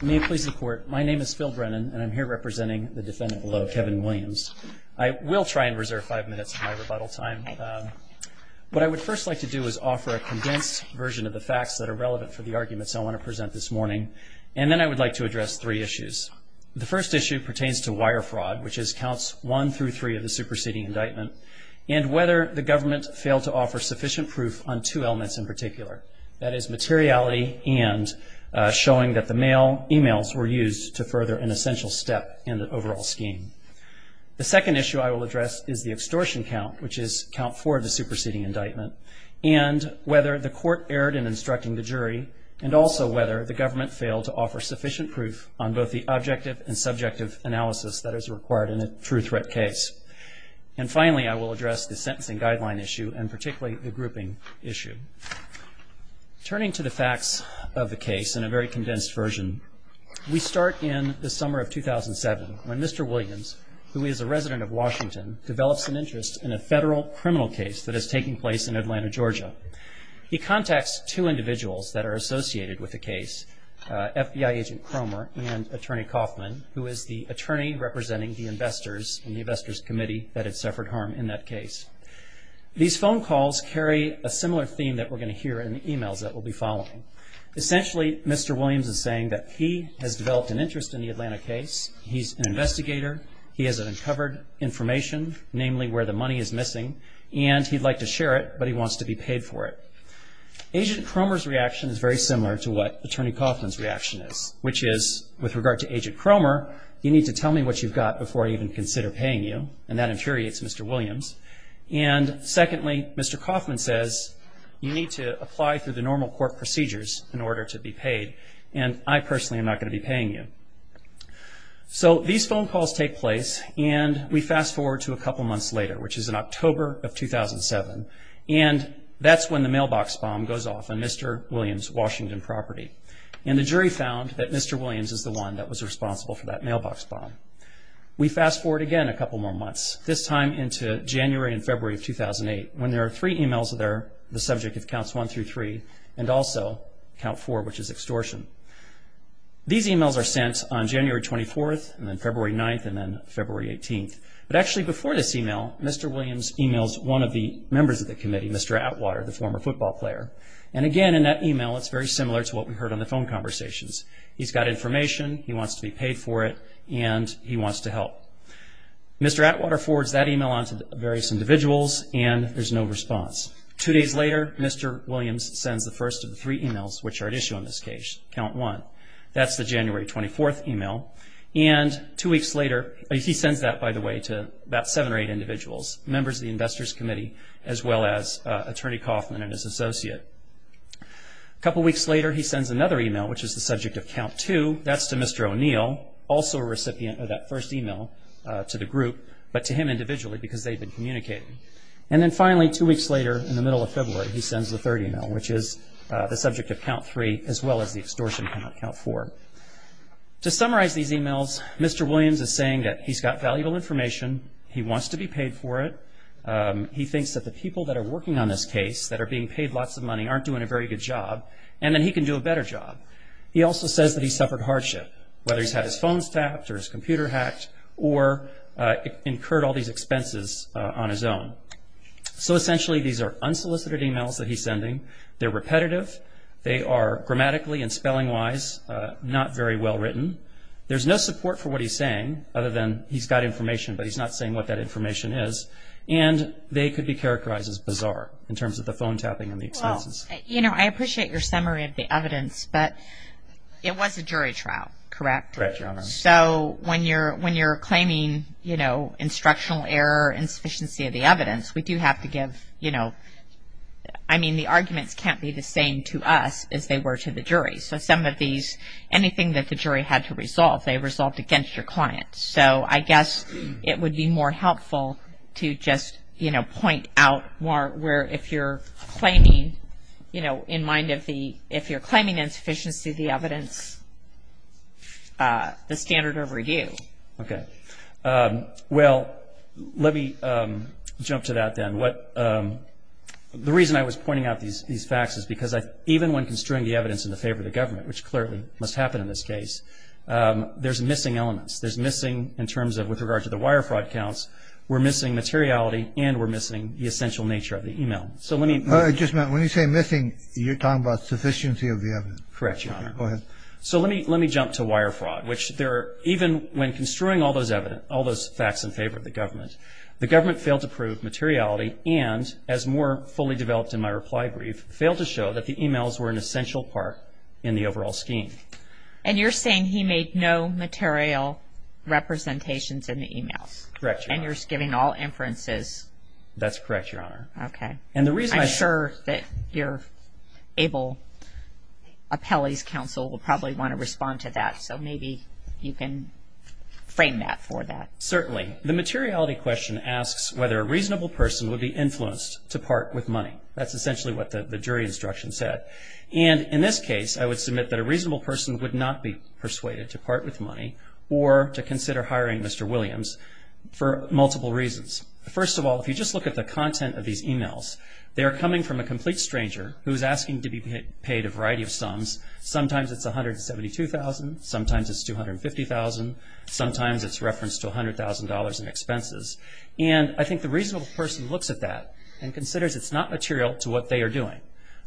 May it please the court, my name is Phil Brennan and I'm here representing the defendant below, Kevin Williams. I will try and reserve five minutes of my rebuttal time. What I would first like to do is offer a condensed version of the facts that are relevant for the arguments I want to present this morning, and then I would like to address three issues. The first issue pertains to wire fraud, which counts one through three of the superseding indictment, and whether the government failed to offer sufficient proof on two elements in particular, that is materiality and showing that the mail emails were used to further an essential step in the overall scheme. The second issue I will address is the extortion count, which is count four of the superseding indictment, and whether the court erred in instructing the jury, and also whether the government failed to offer sufficient proof on both the objective and subjective analysis that is required in a true threat case. And finally, I will address the sentencing guideline issue, and particularly the grouping issue. Turning to the facts of the case in a very condensed version, we start in the summer of 2007, when Mr. Williams, who is a resident of Washington, develops an interest in a federal criminal case that is taking place in Atlanta, Georgia. He contacts two individuals that are associated with the case, FBI agent Cromer and attorney Kaufman, who is the attorney representing the investors in the investors committee that had suffered harm in that case. These phone calls carry a similar theme that we're going to hear in the emails that we'll be following. Essentially, Mr. Williams is saying that he has developed an interest in the Atlanta case, he's an investigator, he has uncovered information, namely where the money is missing, and he'd like to share it, but he wants to be paid for it. Agent Cromer's reaction is very similar to what attorney Kaufman's reaction is, which is, with regard to agent Cromer, you need to tell me what you've got before I even consider paying you, and that infuriates Mr. Williams. And secondly, Mr. Kaufman says, you need to apply through the normal court procedures in order to be paid, and I personally am not going to be paying you. So these phone calls take place, and we fast forward to a couple months later, which is in October of 2007, and that's when the mailbox bomb goes off on Mr. Williams' Washington property. And the jury found that Mr. Williams is the one that was responsible for that mailbox bomb. We fast forward again a couple more months, this time into January and February of 2008, when there are three emails that are the subject of Counts 1 through 3, and also Count 4, which is extortion. These emails are sent on January 24th, and then February 9th, and then February 18th. But actually, before this email, Mr. Williams emails one of the members of the committee, Mr. Atwater, the former football player. And again, in that email, it's very similar to what we heard on the phone conversations. He's got information, he wants to be paid for it, and he wants to help. Mr. Atwater forwards that email on to various individuals, and there's no response. Two days later, Mr. Williams sends the first of the three emails which are at issue on this case, Count 1. That's the January 24th email. And two weeks later, he sends that, by the way, to about seven or eight individuals, members of the Investors Committee, as well as Attorney Kaufman and his associate. A couple weeks later, he sends another email, which is the subject of Count 2. That's to Mr. O'Neill, also a recipient of that first email to the group, but to him individually because they've been communicating. And then finally, two weeks later, in the middle of February, he sends the third email, which is the subject of Count 3, as well as the extortion count, Count 4. To summarize these emails, Mr. Williams is saying that he's got valuable information, he wants to be paid for it, he thinks that the people that are working on this case that are being paid lots of money aren't doing a very good job, and that he can do a better job. He also says that he's suffered hardship, whether he's had his phones tapped or his computer hacked or incurred all these expenses on his own. So essentially, these are unsolicited emails that he's sending. They're repetitive. They are grammatically and spelling-wise not very well written. There's no support for what he's saying, other than he's got information, but he's not saying what that information is. And they could be characterized as bizarre in terms of the phone tapping and the expenses. Well, you know, I appreciate your summary of the evidence, but it was a jury trial, correct? Correct, Your Honor. So when you're claiming, you know, instructional error, insufficiency of the evidence, we do have to give, you know, I mean, the arguments can't be the same to us as they were to the jury. So some of these, anything that the jury had to resolve, they resolved against your client. So I guess it would be more helpful to just, you know, point out more where if you're claiming, you know, in mind of the, if you're claiming insufficiency of the evidence, the standard of review. Okay. Well, let me jump to that then. The reason I was pointing out these facts is because even when construing the evidence in favor of the government, which clearly must happen in this case, there's missing elements. There's missing in terms of with regard to the wire fraud counts, we're missing materiality and we're missing the essential nature of the email. So let me. I just meant, when you say missing, you're talking about sufficiency of the evidence. Correct, Your Honor. Go ahead. So let me jump to wire fraud, which there are, even when construing all those facts in favor of the government, the government failed to prove materiality and, as more fully developed in my reply brief, failed to show that the emails were an essential part in the overall scheme. And you're saying he made no material representations in the emails. Correct, Your Honor. And you're giving all inferences. That's correct, Your Honor. Okay. And the reason I. I'm sure that your able appellee's counsel will probably want to respond to that, so maybe you can frame that for that. Certainly. The materiality question asks whether a reasonable person would be influenced to part with money. That's essentially what the jury instruction said. And in this case, I would submit that a reasonable person would not be persuaded to part with money or to consider hiring Mr. Williams for multiple reasons. First of all, if you just look at the content of these emails, they are coming from a complete stranger who is asking to be paid a variety of sums. Sometimes it's $172,000. Sometimes it's $250,000. Sometimes it's referenced to $100,000 in expenses. And I think the reasonable person looks at that and considers it's not material to what they are doing.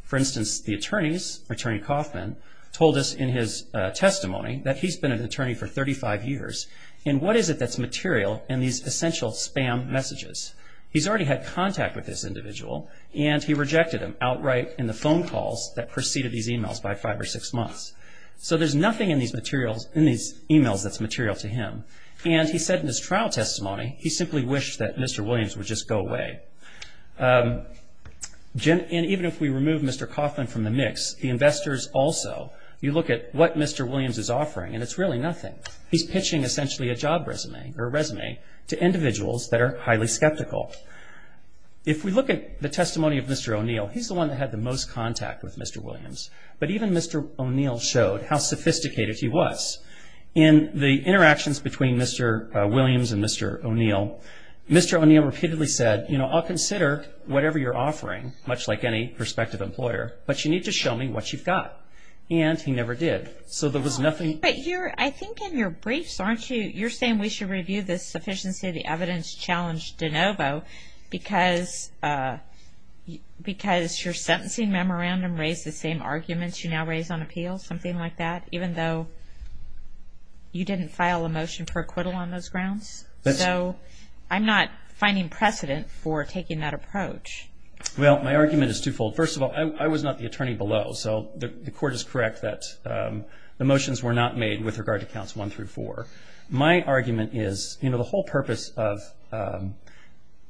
For instance, the attorneys, Attorney Kaufman, told us in his testimony that he's been an attorney for 35 years. And what is it that's material in these essential spam messages? He's already had contact with this individual, and he rejected them outright in the phone calls that preceded these emails by five or six months. So there's nothing in these emails that's material to him. And he said in his trial testimony he simply wished that Mr. Williams would just go away. And even if we remove Mr. Kaufman from the mix, the investors also, you look at what Mr. Williams is offering, and it's really nothing. He's pitching essentially a job resume to individuals that are highly skeptical. If we look at the testimony of Mr. O'Neill, he's the one that had the most contact with Mr. Williams. But even Mr. O'Neill showed how sophisticated he was. In the interactions between Mr. Williams and Mr. O'Neill, Mr. O'Neill repeatedly said, you know, I'll consider whatever you're offering, much like any prospective employer, but you need to show me what you've got. And he never did. So there was nothing. But you're, I think in your briefs, aren't you, you're saying we should review this sufficiency of the evidence challenge de novo because your sentencing memorandum raised the same arguments you now raise on appeal, something like that, even though you didn't file a motion for acquittal on those grounds? So I'm not finding precedent for taking that approach. Well, my argument is twofold. First of all, I was not the attorney below, so the court is correct that the motions were not made with regard to counts one through four. My argument is, you know, the whole purpose of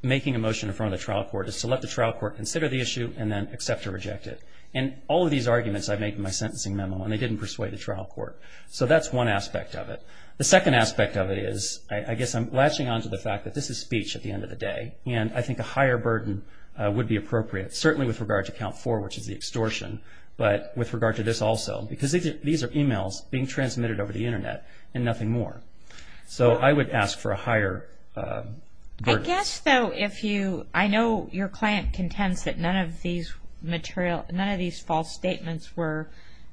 making a motion in front of the trial court is to let the trial court consider the issue and then accept or reject it. And all of these arguments I make in my sentencing memo, and they didn't persuade the trial court. So that's one aspect of it. The second aspect of it is, I guess I'm latching on to the fact that this is speech at the end of the day, and I think a higher burden would be appropriate, certainly with regard to count four, which is the extortion, but with regard to this also, because these are e-mails being transmitted over the Internet and nothing more. So I would ask for a higher burden. I guess, though, if you – I know your client contends that none of these material – none of these false statements were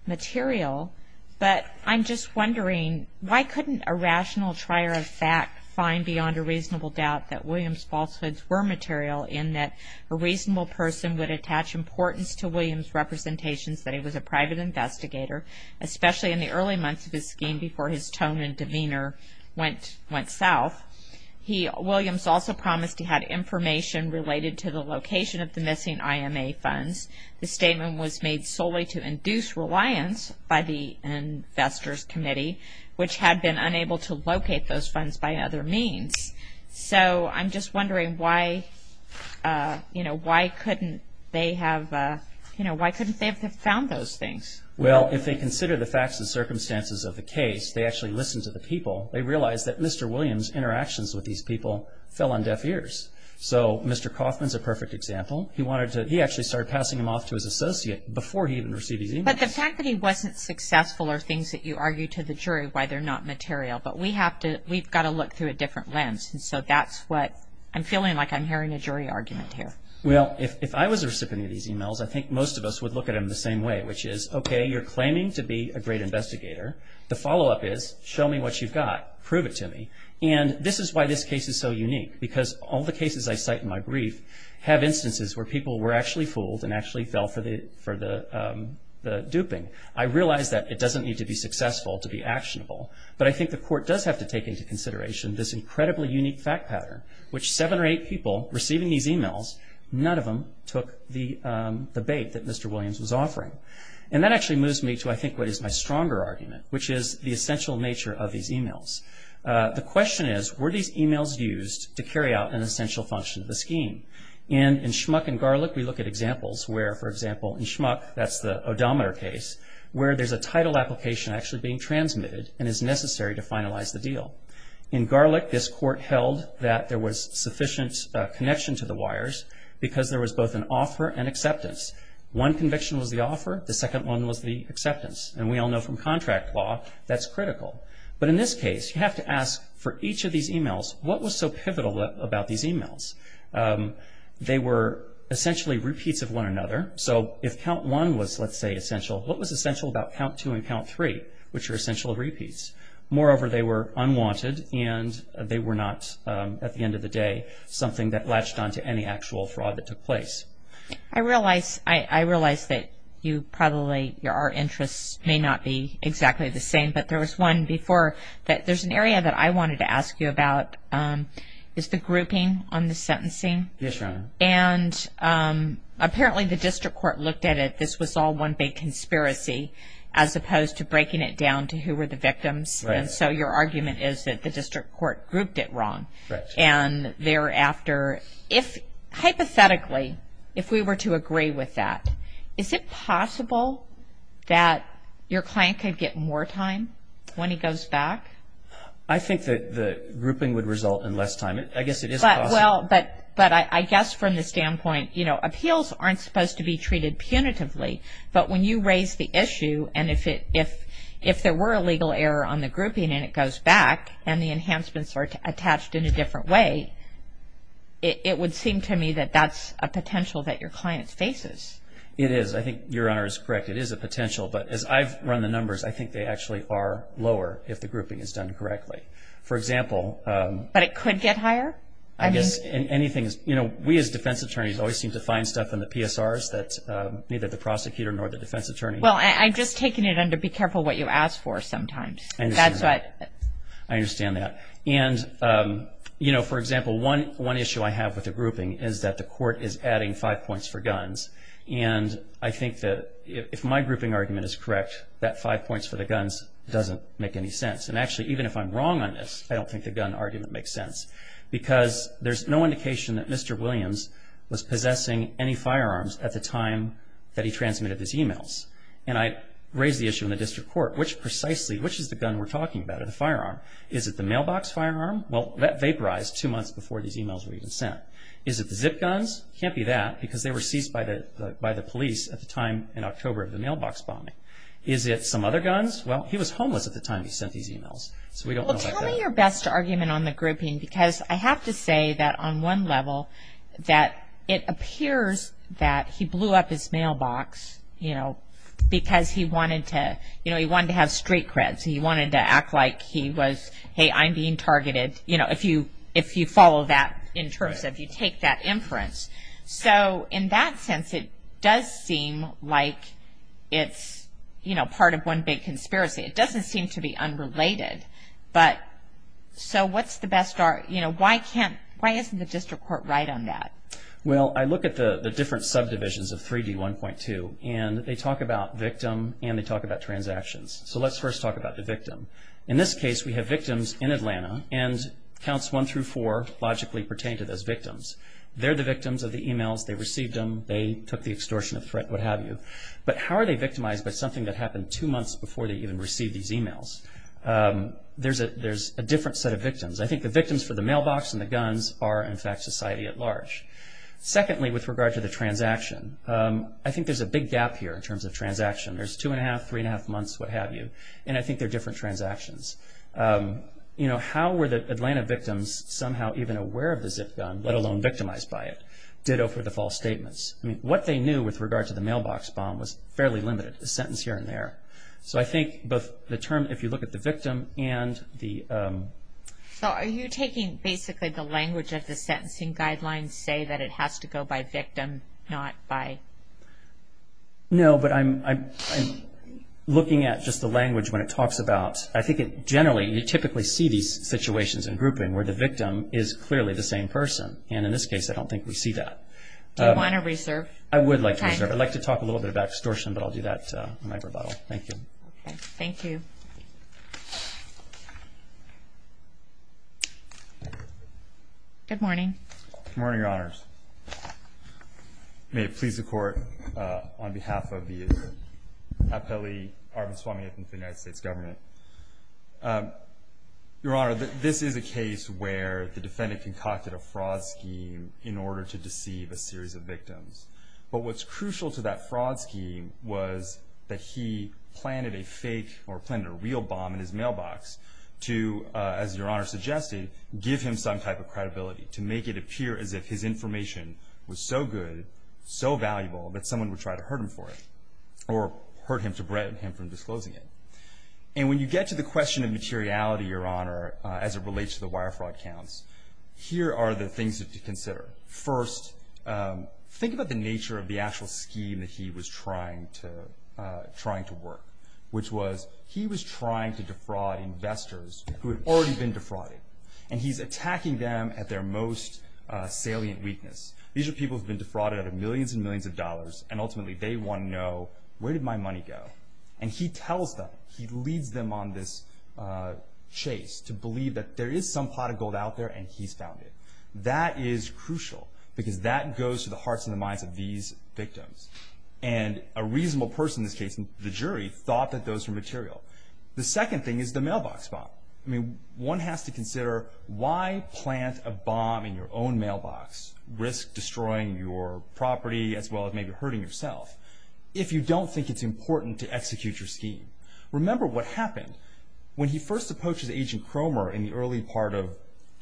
material, but I'm just wondering, why couldn't a rational trier of fact find beyond a reasonable doubt that Williams' falsehoods were material in that a reasonable person would attach importance to especially in the early months of his scheme before his tone and demeanor went south. Williams also promised he had information related to the location of the missing IMA funds. The statement was made solely to induce reliance by the Investors Committee, which had been unable to locate those funds by other means. So I'm just wondering why couldn't they have – why couldn't they have found those things? Well, if they consider the facts and circumstances of the case, they actually listen to the people. They realize that Mr. Williams' interactions with these people fell on deaf ears. So Mr. Kaufman's a perfect example. He wanted to – he actually started passing them off to his associate before he even received these e-mails. But the fact that he wasn't successful are things that you argue to the jury why they're not material. But we have to – we've got to look through a different lens. And so that's what – I'm feeling like I'm hearing a jury argument here. Well, if I was a recipient of these e-mails, I think most of us would look at them the same way, which is, okay, you're claiming to be a great investigator. The follow-up is, show me what you've got. Prove it to me. And this is why this case is so unique, because all the cases I cite in my brief have instances where people were actually fooled and actually fell for the duping. I realize that it doesn't need to be successful to be actionable. But I think the court does have to take into consideration this incredibly unique fact pattern, which seven or eight people receiving these e-mails, none of them took the bait that Mr. Williams was offering. And that actually moves me to, I think, what is my stronger argument, which is the essential nature of these e-mails. The question is, were these e-mails used to carry out an essential function of the scheme? And in Schmuck and Garlick, we look at examples where, for example, in Schmuck, that's the odometer case, where there's a title application actually being transmitted and is necessary to finalize the deal. In Garlick, this court held that there was sufficient connection to the wires because there was both an offer and acceptance. One conviction was the offer. The second one was the acceptance. And we all know from contract law, that's critical. But in this case, you have to ask, for each of these e-mails, what was so pivotal about these e-mails? They were essentially repeats of one another. So if count one was, let's say, essential, what was essential about count two and count three, which are essential repeats? Moreover, they were unwanted, and they were not, at the end of the day, something that latched onto any actual fraud that took place. I realize that you probably, our interests may not be exactly the same, but there was one before that there's an area that I wanted to ask you about, is the grouping on the sentencing. Yes, Your Honor. And apparently the district court looked at it, this was all one big conspiracy, as opposed to breaking it down to who were the victims. And so your argument is that the district court grouped it wrong. And thereafter, if, hypothetically, if we were to agree with that, is it possible that your client could get more time when he goes back? I think that the grouping would result in less time. I guess it is possible. But I guess from the standpoint, you know, appeals aren't supposed to be treated punitively. But when you raise the issue, and if there were a legal error on the grouping, and it goes back, and the enhancements are attached in a different way, it would seem to me that that's a potential that your client faces. It is. I think Your Honor is correct. It is a potential. But as I've run the numbers, I think they actually are lower if the grouping is done correctly. For example. But it could get higher? I guess anything is, you know, we as defense attorneys always seem to find stuff in the PSRs that neither the prosecutor nor the defense attorney. Well, I'm just taking it under be careful what you ask for sometimes. That's what. I understand that. And, you know, for example, one issue I have with the grouping is that the court is adding five points for guns. And I think that if my grouping argument is correct, that five points for the guns doesn't make any sense. And actually, even if I'm wrong on this, I don't think the gun argument makes sense. Because there's no indication that Mr. Williams was possessing any firearms at the time that he transmitted his e-mails. And I raise the issue in the district court, which precisely, which is the gun we're talking about, the firearm? Is it the mailbox firearm? Well, that vaporized two months before these e-mails were even sent. Is it the zip guns? Can't be that because they were seized by the police at the time in October of the mailbox bombing. Is it some other guns? Well, he was homeless at the time he sent these e-mails. So we don't know about that. Well, tell me your best argument on the grouping because I have to say that on one level, that it appears that he blew up his mailbox, you know, because he wanted to, you know, he wanted to have straight creds. He wanted to act like he was, hey, I'm being targeted, you know, if you follow that in terms of you take that inference. So in that sense, it does seem like it's, you know, part of one big conspiracy. It doesn't seem to be unrelated. But so what's the best, you know, why can't, why isn't the district court right on that? Well, I look at the different subdivisions of 3D1.2 and they talk about victim and they talk about transactions. So let's first talk about the victim. In this case, we have victims in Atlanta and counts one through four logically pertain to those victims. They're the victims of the e-mails. They received them. They took the extortionate threat, what have you. But how are they victimized by something that happened two months before they even received these e-mails? There's a different set of victims. I think the victims for the mailbox and the guns are, in fact, society at large. Secondly, with regard to the transaction, I think there's a big gap here in terms of transaction. There's two and a half, three and a half months, what have you. And I think they're different transactions. You know, how were the Atlanta victims somehow even aware of the zip gun, let alone victimized by it? Ditto for the false statements. I mean, what they knew with regard to the mailbox bomb was fairly limited, a sentence here and there. So I think both the term, if you look at the victim and the- So are you taking basically the language of the sentencing guidelines say that it has to go by victim, not by- No, but I'm looking at just the language when it talks about, I think it generally, you typically see these situations in grouping where the victim is clearly the same person. And in this case, I don't think we see that. Do you want to reserve? I would like to reserve. Okay. I'd like to talk a little bit about extortion, but I'll do that in my rebuttal. Thank you. Okay. Thank you. Good morning. Good morning, Your Honors. May it please the Court, on behalf of the appellee, Arvind Swamy, of the United States government. Your Honor, this is a case where the defendant concocted a fraud scheme in order to deceive a series of victims. But what's crucial to that fraud scheme was that he planted a fake or planted a real bomb in his mailbox to, as Your Honor suggested, give him some type of credibility, to make it appear as if his information was so good, so valuable, that someone would try to hurt him for it or hurt him to prevent him from disclosing it. And when you get to the question of materiality, Your Honor, as it relates to the wire fraud counts, here are the things to consider. First, think about the nature of the actual scheme that he was trying to work, which was he was trying to defraud investors who had already been defrauded, and he's attacking them at their most salient weakness. These are people who have been defrauded out of millions and millions of dollars, and ultimately they want to know, where did my money go? And he tells them, he leads them on this chase to believe that there is some pot of gold out there and he's found it. That is crucial because that goes to the hearts and the minds of these victims. And a reasonable person in this case, the jury, thought that those were material. The second thing is the mailbox bomb. I mean, one has to consider, why plant a bomb in your own mailbox, risk destroying your property as well as maybe hurting yourself, if you don't think it's important to execute your scheme. Remember what happened. When he first approaches Agent Cromer in the early part of,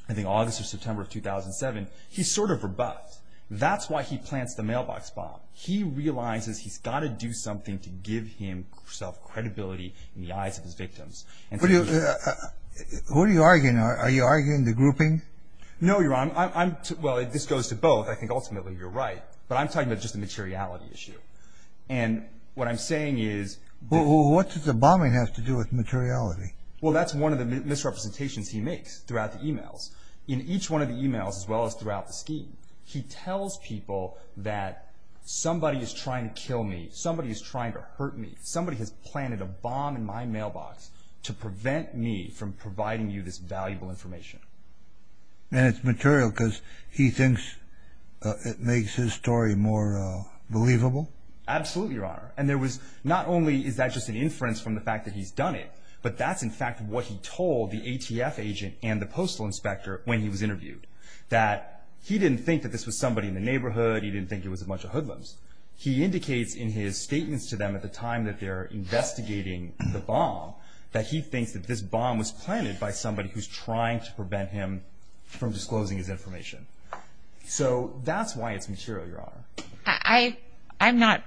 I think, August or September of 2007, he's sort of rebuffed. That's why he plants the mailbox bomb. He realizes he's got to do something to give himself credibility in the eyes of his victims. Who are you arguing? Are you arguing the grouping? No, Your Honor. Well, this goes to both. I think, ultimately, you're right, but I'm talking about just the materiality issue. And what I'm saying is... Well, what does the bombing have to do with materiality? Well, that's one of the misrepresentations he makes throughout the e-mails. In each one of the e-mails as well as throughout the scheme, he tells people that somebody is trying to kill me, somebody is trying to hurt me, somebody has planted a bomb in my mailbox to prevent me from providing you this valuable information. And it's material because he thinks it makes his story more believable? Absolutely, Your Honor. And there was not only is that just an inference from the fact that he's done it, but that's, in fact, what he told the ATF agent and the postal inspector when he was interviewed, that he didn't think that this was somebody in the neighborhood, he didn't think it was a bunch of hoodlums. He indicates in his statements to them at the time that they're investigating the bomb that he thinks that this bomb was planted by somebody who's trying to prevent him from disclosing his information. So that's why it's material, Your Honor. I'm not...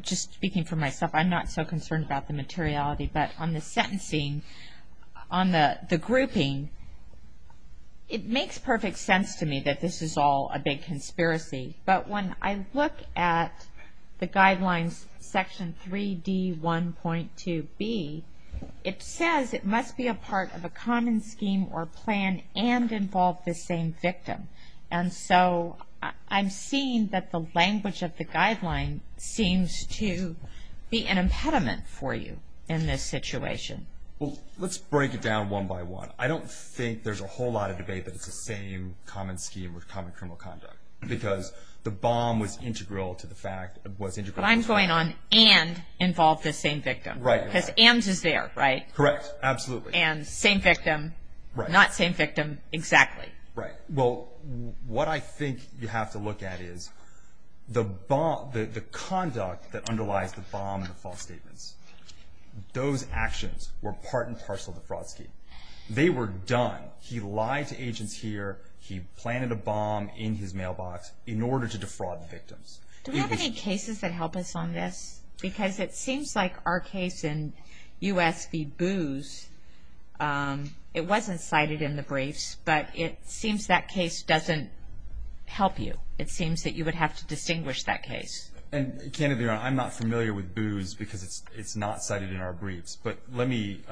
Just speaking for myself, I'm not so concerned about the materiality, but on the sentencing, on the grouping, it makes perfect sense to me that this is all a big conspiracy. But when I look at the guidelines, Section 3D1.2b, it says it must be a part of a common scheme or plan and involve the same victim. And so I'm seeing that the language of the guideline seems to be an impediment for you in this situation. Well, let's break it down one by one. I don't think there's a whole lot of debate that it's the same common scheme or common criminal conduct because the bomb was integral to the fact... I'm going on and involved the same victim. Right. Because AMS is there, right? Correct. Absolutely. And same victim, not same victim, exactly. Right. Well, what I think you have to look at is the conduct that underlies the bomb and the false statements. Those actions were part and parcel of the fraud scheme. They were done. He lied to agents here. He planted a bomb in his mailbox in order to defraud the victims. Do we have any cases that help us on this? Because it seems like our case in U.S. v. Booze, it wasn't cited in the briefs, but it seems that case doesn't help you. It seems that you would have to distinguish that case. And candidly, I'm not familiar with Booze because it's not cited in our briefs. But let me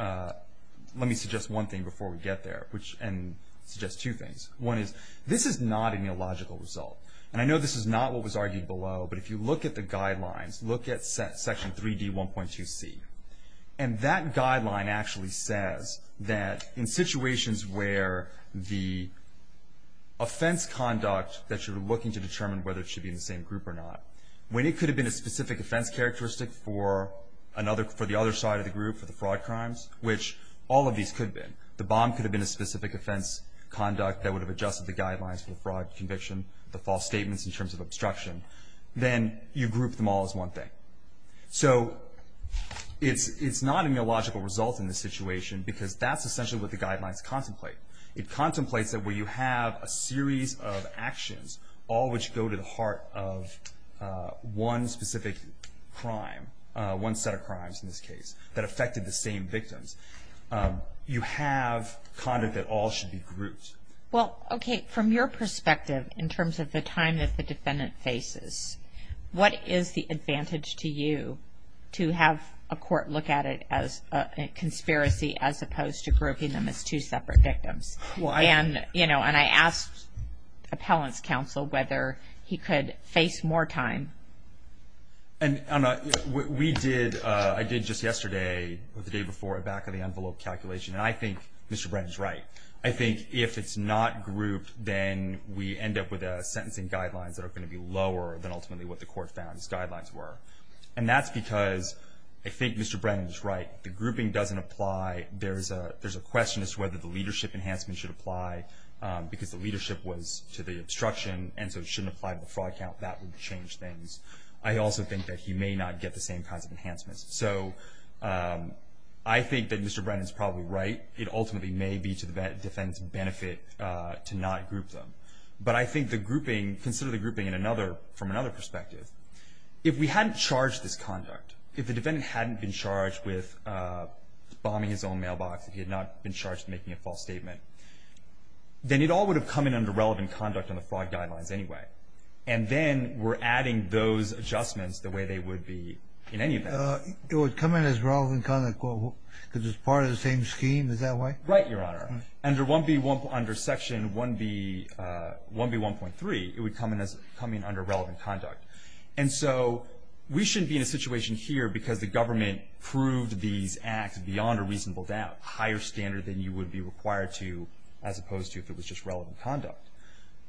suggest one thing before we get there and suggest two things. One is this is not a neological result, and I know this is not what was argued below, but if you look at the guidelines, look at Section 3D1.2c, and that guideline actually says that in situations where the offense conduct that you're looking to determine whether it should be in the same group or not, when it could have been a specific offense characteristic for the other side of the group, for the fraud crimes, which all of these could have been. The bomb could have been a specific offense conduct that would have adjusted the guidelines for the fraud conviction, the false statements in terms of obstruction, then you group them all as one thing. So it's not a neological result in this situation because that's essentially what the guidelines contemplate. It contemplates that where you have a series of actions, all which go to the heart of one specific crime, one set of crimes in this case, that affected the same victims, you have conduct that all should be grouped. Well, okay, from your perspective in terms of the time that the defendant faces, what is the advantage to you to have a court look at it as a conspiracy as opposed to grouping them as two separate victims? And I asked appellant's counsel whether he could face more time. And I did just yesterday or the day before a back-of-the-envelope calculation, and I think Mr. Brennan is right. I think if it's not grouped, then we end up with sentencing guidelines that are going to be lower than ultimately what the court found these guidelines were. And that's because I think Mr. Brennan is right. The grouping doesn't apply. There's a question as to whether the leadership enhancement should apply because the leadership was to the obstruction, and so it shouldn't apply to the fraud count. That would change things. I also think that he may not get the same kinds of enhancements. So I think that Mr. Brennan is probably right. It ultimately may be to the defendant's benefit to not group them. But I think the grouping, consider the grouping from another perspective. If we hadn't charged this conduct, if the defendant hadn't been charged with bombing his own mailbox, if he had not been charged with making a false statement, then it all would have come in under relevant conduct on the fraud guidelines anyway. And then we're adding those adjustments the way they would be in any event. It would come in as relevant conduct because it's part of the same scheme. Is that right? Right, Your Honor. Under Section 1B1.3, it would come in under relevant conduct. And so we shouldn't be in a situation here because the government proved these acts beyond a reasonable doubt, higher standard than you would be required to as opposed to if it was just relevant conduct.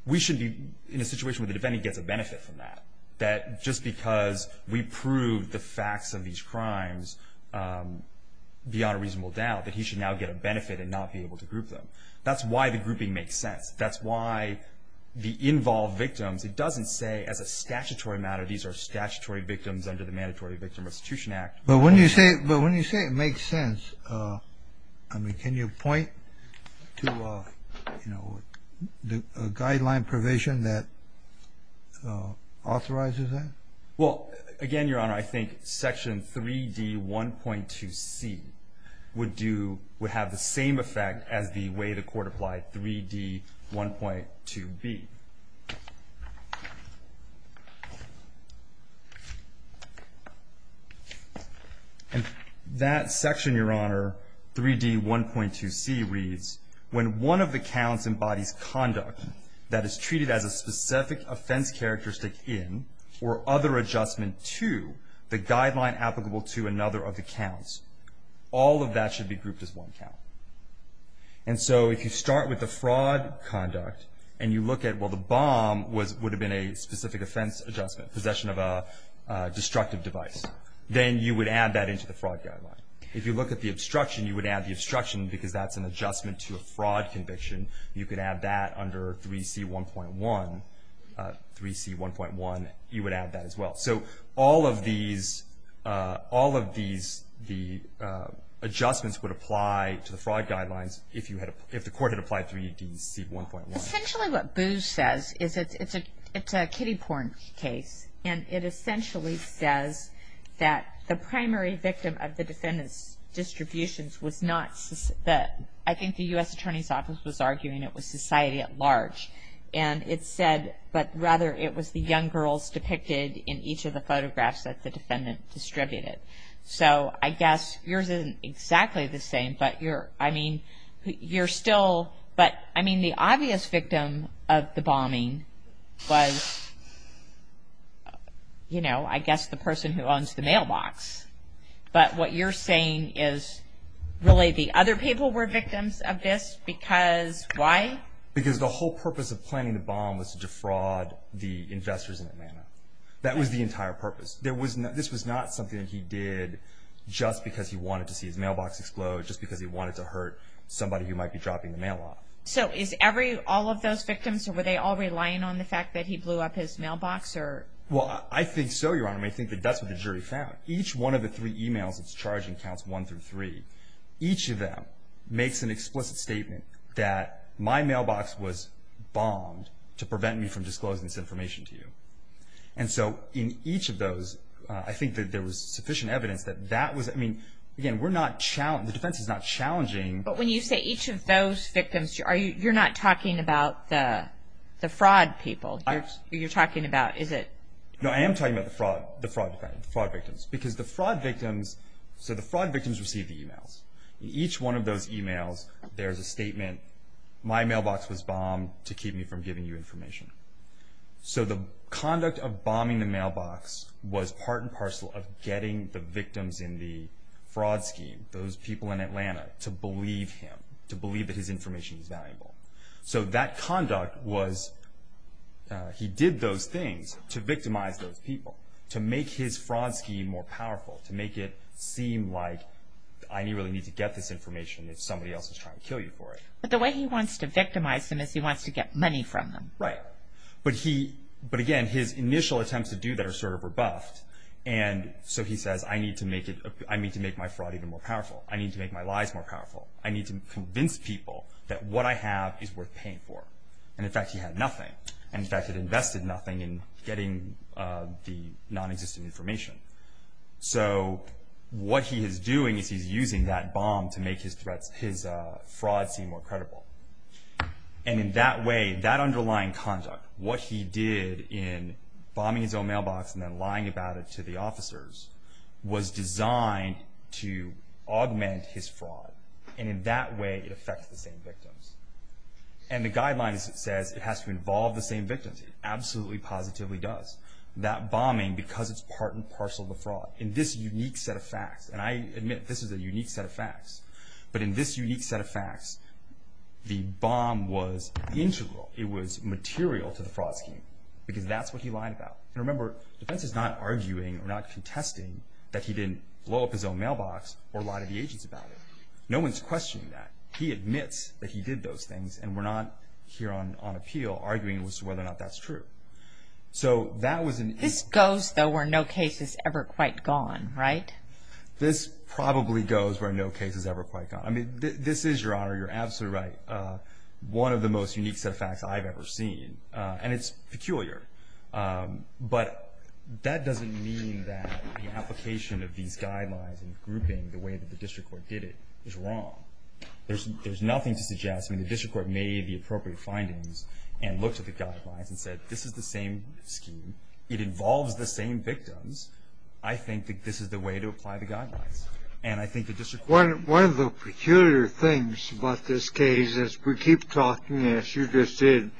We should be in a situation where the defendant gets a benefit from that, that just because we proved the facts of these crimes beyond a reasonable doubt, that he should now get a benefit and not be able to group them. That's why the grouping makes sense. That's why the involved victims, it doesn't say as a statutory matter these are statutory victims under the Mandatory Victim Restitution Act. But when you say it makes sense, I mean, can you point to a guideline provision that authorizes that? Well, again, Your Honor, I think Section 3D1.2C would have the same effect as the way the Court applied 3D1.2B. And that section, Your Honor, 3D1.2C reads, when one of the counts embodies conduct that is treated as a specific offense characteristic in or other adjustment to the guideline applicable to another of the counts, all of that should be grouped as one count. And so if you start with the fraud conduct and you look at, well, the bomb would have been a specific offense adjustment, possession of a destructive device, then you would add that into the fraud guideline. If you look at the obstruction, you would add the obstruction because that's an adjustment to a fraud conviction. You could add that under 3C1.1. 3C1.1, you would add that as well. So all of these adjustments would apply to the fraud guidelines if the Court had applied 3D1.1. Essentially what Booz says is it's a kiddie porn case. And it essentially says that the primary victim of the defendant's distributions was not the, I think the U.S. Attorney's Office was arguing it was society at large. And it said, but rather it was the young girls depicted in each of the photographs that the defendant distributed. So I guess yours isn't exactly the same. But, I mean, you're still, but, I mean, the obvious victim of the bombing was, you know, I guess the person who owns the mailbox. But what you're saying is really the other people were victims of this because why? Because the whole purpose of planning the bomb was to defraud the investors in Atlanta. That was the entire purpose. This was not something that he did just because he wanted to see his mailbox explode, just because he wanted to hurt somebody who might be dropping the mail off. So is every, all of those victims, were they all relying on the fact that he blew up his mailbox? Well, I think so, Your Honor. I think that that's what the jury found. Each one of the three emails that's charging counts one through three. Each of them makes an explicit statement that my mailbox was bombed to prevent me from disclosing this information to you. And so in each of those, I think that there was sufficient evidence that that was, I mean, again, we're not, the defense is not challenging. But when you say each of those victims, you're not talking about the fraud people. You're talking about, is it? No, I am talking about the fraud victims because the fraud victims, so the fraud victims received the emails. In each one of those emails, there's a statement, my mailbox was bombed to keep me from giving you information. So the conduct of bombing the mailbox was part and parcel of getting the victims in the fraud scheme, those people in Atlanta, to believe him, to believe that his information is valuable. So that conduct was, he did those things to victimize those people, to make his fraud scheme more powerful, to make it seem like I really need to get this information if somebody else is trying to kill you for it. But the way he wants to victimize them is he wants to get money from them. Right. But he, but again, his initial attempts to do that are sort of rebuffed. And so he says, I need to make it, I need to make my fraud even more powerful. I need to make my lies more powerful. I need to convince people that what I have is worth paying for. And in fact, he had nothing. In fact, he invested nothing in getting the nonexistent information. So what he is doing is he's using that bomb to make his threats, his fraud scheme more credible. And in that way, that underlying conduct, what he did in bombing his own mailbox and then lying about it to the officers, was designed to augment his fraud. And in that way, it affects the same victims. And the guidelines says it has to involve the same victims. It absolutely, positively does. That bombing, because it's part and parcel of the fraud, in this unique set of facts, and I admit this is a unique set of facts, but in this unique set of facts, the bomb was integral. It was material to the fraud scheme because that's what he lied about. And remember, defense is not arguing or not contesting that he didn't blow up his own mailbox or lie to the agents about it. No one's questioning that. He admits that he did those things and we're not here on appeal arguing as to whether or not that's true. So that was an… This goes, though, where no case is ever quite gone, right? This probably goes where no case is ever quite gone. I mean, this is, Your Honor, you're absolutely right, one of the most unique set of facts I've ever seen. And it's peculiar. But that doesn't mean that the application of these guidelines and grouping the way that the district court did it is wrong. There's nothing to suggest. I mean, the district court made the appropriate findings and looked at the guidelines and said this is the same scheme. It involves the same victims. I think that this is the way to apply the guidelines. And I think the district court… One of the peculiar things about this case is we keep talking, as you just did,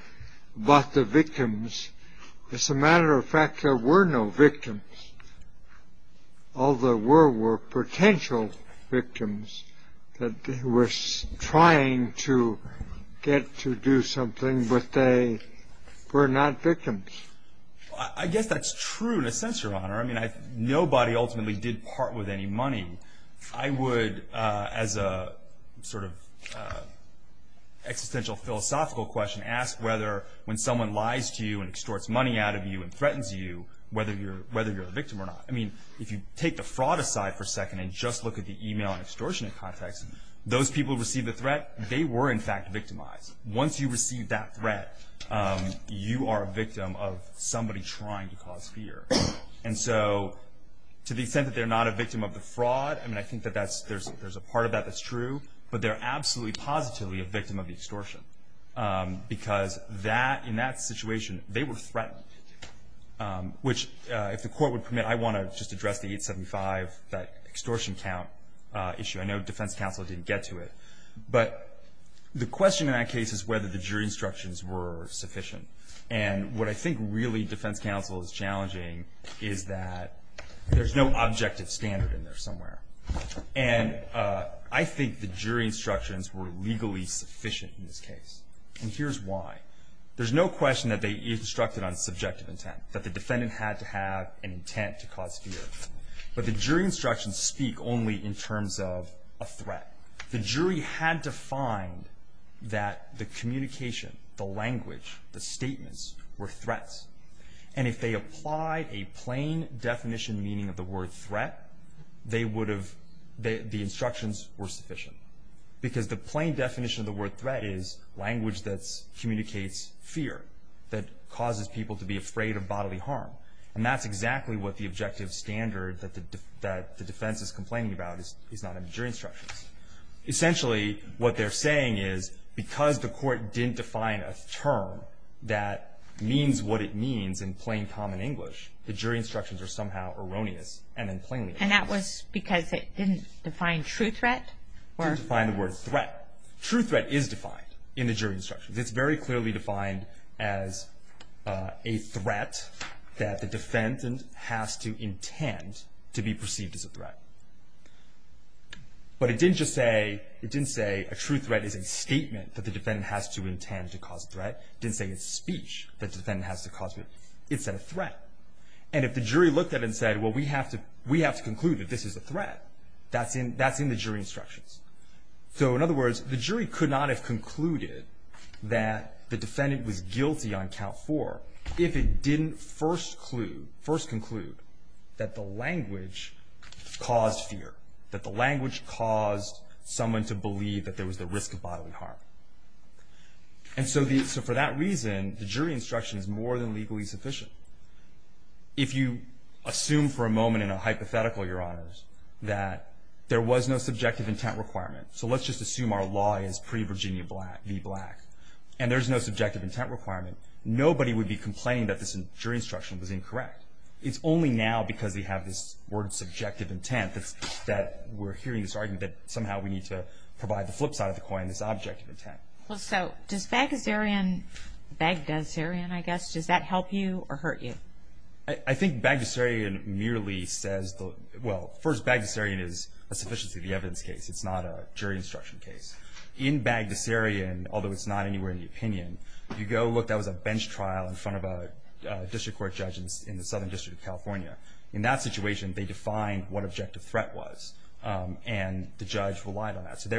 about the victims. As a matter of fact, there were no victims. All there were were potential victims that were trying to get to do something, but they were not victims. I guess that's true in a sense, Your Honor. I mean, nobody ultimately did part with any money. I would, as a sort of existential philosophical question, ask whether when someone lies to you and extorts money out of you and threatens you, whether you're the victim or not. I mean, if you take the fraud aside for a second and just look at the email extortionate context, those people who received the threat, they were, in fact, victimized. Once you receive that threat, you are a victim of somebody trying to cause fear. And so to the extent that they're not a victim of the fraud, I mean, I think that there's a part of that that's true, but they're absolutely positively a victim of the extortion because in that situation they were threatened, which if the court would permit, I want to just address the 875, that extortion count issue. I know defense counsel didn't get to it. But the question in that case is whether the jury instructions were sufficient. And what I think really defense counsel is challenging is that there's no objective standard in there somewhere. And I think the jury instructions were legally sufficient in this case. And here's why. There's no question that they instructed on subjective intent, that the defendant had to have an intent to cause fear. That the jury had to find that the communication, the language, the statements were threats. And if they applied a plain definition meaning of the word threat, they would have, the instructions were sufficient. Because the plain definition of the word threat is language that communicates fear, that causes people to be afraid of bodily harm. And that's exactly what the objective standard that the defense is complaining about is not in the jury instructions. Essentially what they're saying is because the court didn't define a term that means what it means in plain common English, the jury instructions are somehow erroneous and then plainly erroneous. And that was because it didn't define true threat? It didn't define the word threat. True threat is defined in the jury instructions. It's very clearly defined as a threat that the defendant has to intend to be perceived as a threat. But it didn't just say, it didn't say a true threat is a statement that the defendant has to intend to cause a threat. It didn't say it's speech that the defendant has to cause fear. It said a threat. And if the jury looked at it and said, well, we have to conclude that this is a threat, that's in the jury instructions. So in other words, the jury could not have concluded that the defendant was guilty on count four if it didn't first conclude that the language caused fear, that the language caused someone to believe that there was the risk of bodily harm. And so for that reason, the jury instruction is more than legally sufficient. If you assume for a moment in a hypothetical, Your Honors, that there was no subjective intent requirement, so let's just assume our law is pre-Virginia v. Black, and there's no subjective intent requirement, nobody would be complaining that this jury instruction was incorrect. It's only now because they have this word subjective intent that we're hearing this argument that somehow we need to provide the flip side of the coin, this objective intent. Well, so does Bagdasarian, I guess, does that help you or hurt you? I think Bagdasarian merely says, well, first, Bagdasarian is a sufficiency of the evidence case. It's not a jury instruction case. In Bagdasarian, although it's not anywhere in the opinion, you go look, that was a bench trial in front of a district court judge in the Southern District of California. In that situation, they defined what objective threat was, and the judge relied on that. So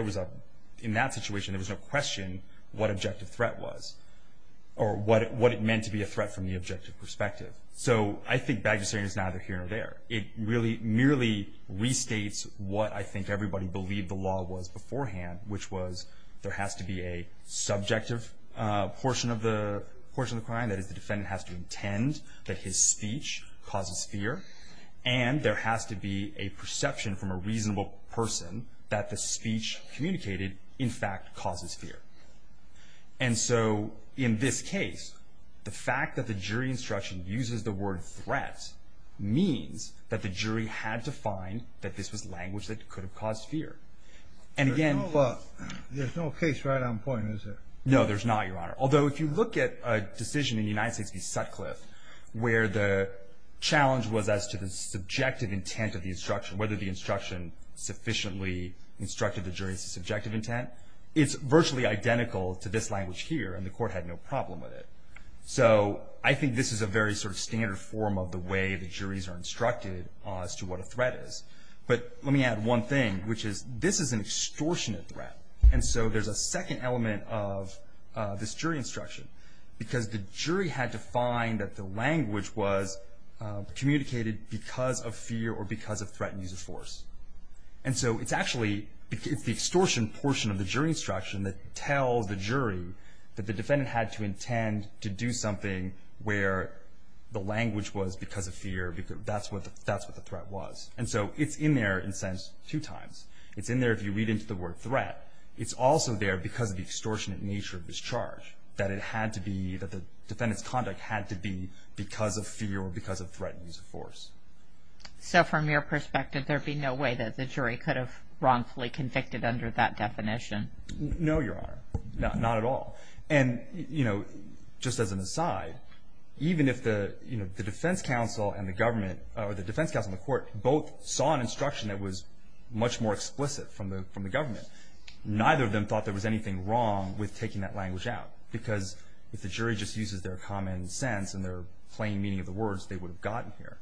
in that situation, there was no question what objective threat was or what it meant to be a threat from the objective perspective. So I think Bagdasarian is neither here nor there. It merely restates what I think everybody believed the law was beforehand, which was there has to be a subjective portion of the crime. That is, the defendant has to intend that his speech causes fear, and there has to be a perception from a reasonable person that the speech communicated, in fact, causes fear. And so in this case, the fact that the jury instruction uses the word threat means that the jury had to find that this was language that could have caused fear. There's no case right on point, is there? No, there's not, Your Honor. Although if you look at a decision in the United States v. Sutcliffe where the challenge was as to the subjective intent of the instruction, whether the instruction sufficiently instructed the jury's subjective intent, it's virtually identical to this language here, and the court had no problem with it. So I think this is a very sort of standard form of the way the juries are instructed as to what a threat is. But let me add one thing, which is this is an extortionate threat, and so there's a second element of this jury instruction because the jury had to find that the language was communicated because of fear or because of threat and use of force. And so it's actually the extortion portion of the jury instruction that tells the jury that the defendant had to intend to do something where the language was because of fear. That's what the threat was, and so it's in there in a sense two times. It's in there if you read into the word threat. It's also there because of the extortionate nature of this charge, that the defendant's conduct had to be because of fear or because of threat and use of force. So from your perspective, there'd be no way that the jury could have wrongfully convicted under that definition? No, Your Honor, not at all. And, you know, just as an aside, even if the defense counsel and the government or the defense counsel and the court both saw an instruction that was much more explicit from the government, neither of them thought there was anything wrong with taking that language out because if the jury just uses their common sense and their plain meaning of the words, they would have gotten here.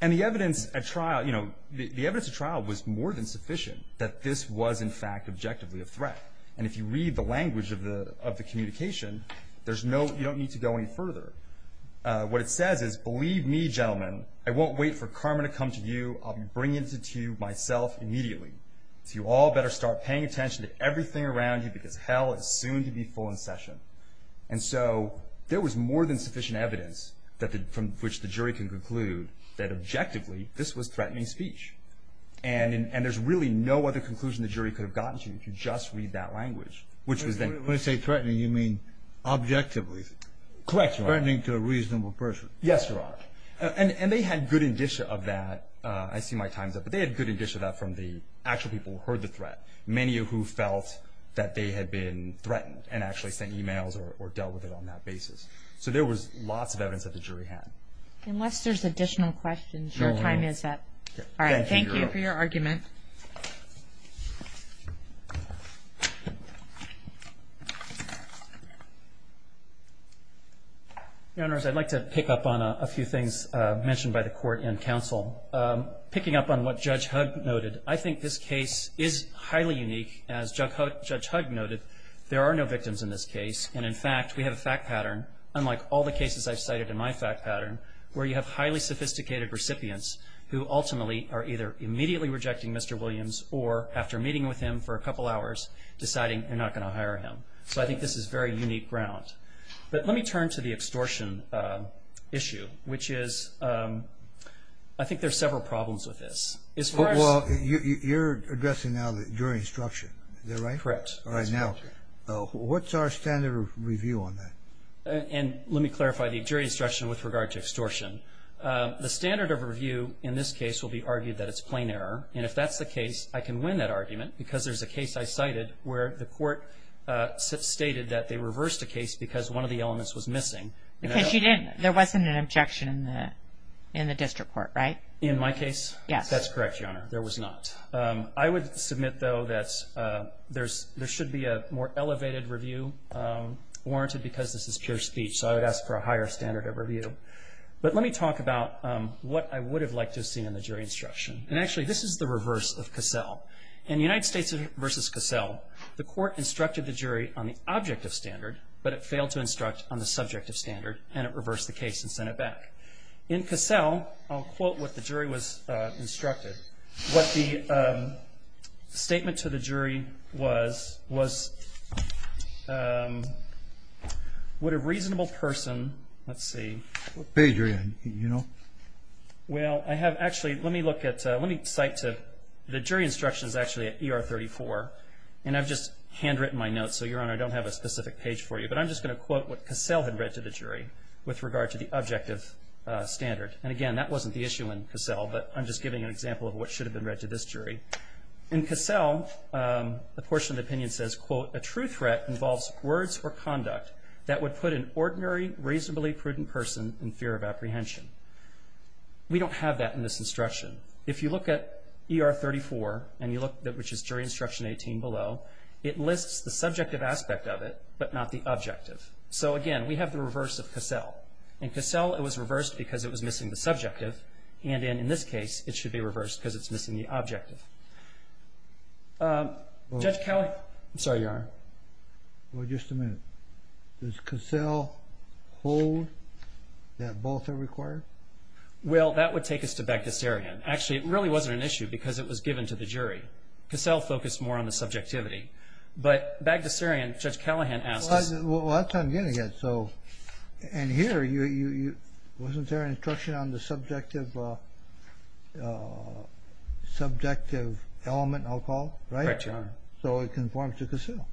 And the evidence at trial, you know, the evidence at trial was more than sufficient that this was, in fact, objectively a threat. And if you read the language of the communication, you don't need to go any further. What it says is, believe me, gentlemen, I won't wait for karma to come to you. I'll be bringing it to you myself immediately. So you all better start paying attention to everything around you because hell is soon to be full in session. And so there was more than sufficient evidence from which the jury can conclude that, objectively, this was threatening speech. And there's really no other conclusion the jury could have gotten to if you just read that language. When you say threatening, you mean objectively? Correct, Your Honor. Threatening to a reasonable person. Yes, Your Honor. And they had good indicia of that. I see my time's up. But they had good indicia of that from the actual people who heard the threat, many of who felt that they had been threatened and actually sent e-mails or dealt with it on that basis. So there was lots of evidence that the jury had. Unless there's additional questions, your time is up. All right. Thank you, Your Honor. Thank you for your argument. Your Honors, I'd like to pick up on a few things mentioned by the Court and counsel. Picking up on what Judge Hugg noted, I think this case is highly unique. As Judge Hugg noted, there are no victims in this case. And, in fact, we have a fact pattern, unlike all the cases I've cited in my fact pattern, where you have highly sophisticated recipients who ultimately are either immediately rejecting Mr. Williams or, after meeting with him for a couple hours, deciding they're not going to hire him. So I think this is very unique ground. But let me turn to the extortion issue, which is I think there's several problems with this. Well, you're addressing now the jury instruction, is that right? Correct. All right. Now, what's our standard of review on that? And let me clarify the jury instruction with regard to extortion. The standard of review in this case will be argued that it's plain error. And if that's the case, I can win that argument because there's a case I cited where the court stated that they reversed a case because one of the elements was missing. Because you didn't. There wasn't an objection in the district court, right? In my case? Yes. That's correct, Your Honor. There was not. I would submit, though, that there should be a more elevated review warranted because this is pure speech. So I would ask for a higher standard of review. But let me talk about what I would have liked to have seen in the jury instruction. And, actually, this is the reverse of Cassell. In United States v. Cassell, the court instructed the jury on the object of standard, but it failed to instruct on the subject of standard, and it reversed the case and sent it back. In Cassell, I'll quote what the jury was instructed. What the statement to the jury was, was, would a reasonable person, let's see. What page are you on? You know? Well, I have, actually, let me look at, let me cite to, the jury instruction is actually at ER 34. And I've just handwritten my notes, so, Your Honor, I don't have a specific page for you. But I'm just going to quote what Cassell had read to the jury with regard to the object of standard. And, again, that wasn't the issue in Cassell, but I'm just giving an example of what should have been read to this jury. In Cassell, a portion of the opinion says, quote, A true threat involves words or conduct that would put an ordinary, reasonably prudent person in fear of apprehension. We don't have that in this instruction. If you look at ER 34, and you look, which is jury instruction 18 below, it lists the subjective aspect of it, but not the objective. So, again, we have the reverse of Cassell. In Cassell, it was reversed because it was missing the subjective. And in this case, it should be reversed because it's missing the objective. Judge Callahan. I'm sorry, Your Honor. Well, just a minute. Does Cassell hold that both are required? Well, that would take us to Bagdasarian. Actually, it really wasn't an issue because it was given to the jury. Cassell focused more on the subjectivity. But Bagdasarian, Judge Callahan asked us. Well, that's what I'm getting at. And here, wasn't there an instruction on the subjective element, I'll call it? Right, Your Honor. So it conforms to Cassell.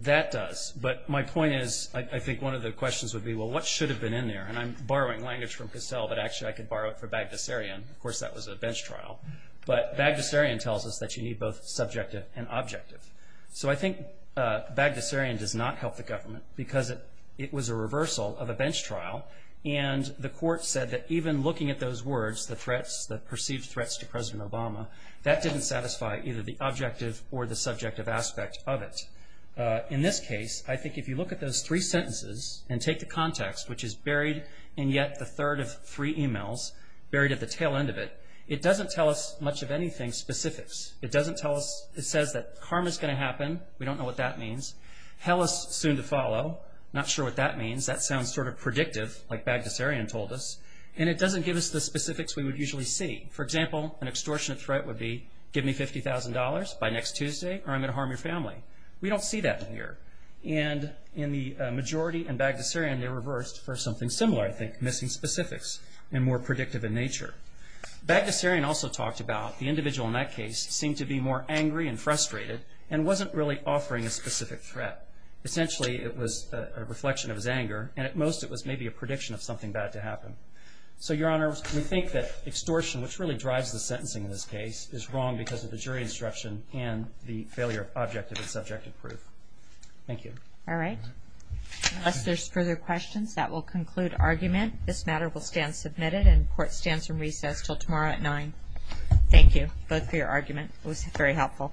That does. But my point is, I think one of the questions would be, well, what should have been in there? And I'm borrowing language from Cassell, but actually I could borrow it from Bagdasarian. Of course, that was a bench trial. But Bagdasarian tells us that you need both subjective and objective. So I think Bagdasarian does not help the government because it was a reversal of a bench trial. And the court said that even looking at those words, the threats, the perceived threats to President Obama, that didn't satisfy either the objective or the subjective aspect of it. In this case, I think if you look at those three sentences and take the context, which is buried in yet the third of three e-mails, buried at the tail end of it, it doesn't tell us much of anything specific. It doesn't tell us. It says that harm is going to happen. We don't know what that means. Hell is soon to follow. Not sure what that means. That sounds sort of predictive, like Bagdasarian told us. And it doesn't give us the specifics we would usually see. For example, an extortionate threat would be give me $50,000 by next Tuesday or I'm going to harm your family. We don't see that here. And in the majority in Bagdasarian, they reversed for something similar, I think, missing specifics and more predictive in nature. Bagdasarian also talked about the individual in that case seemed to be more angry and frustrated and wasn't really offering a specific threat. Essentially, it was a reflection of his anger, and at most it was maybe a prediction of something bad to happen. So, Your Honor, we think that extortion, which really drives the sentencing in this case, is wrong because of the jury instruction and the failure of objective and subjective proof. Thank you. All right. Unless there's further questions, that will conclude argument. And this matter will stand submitted and court stands in recess until tomorrow at 9. Thank you both for your argument. It was very helpful.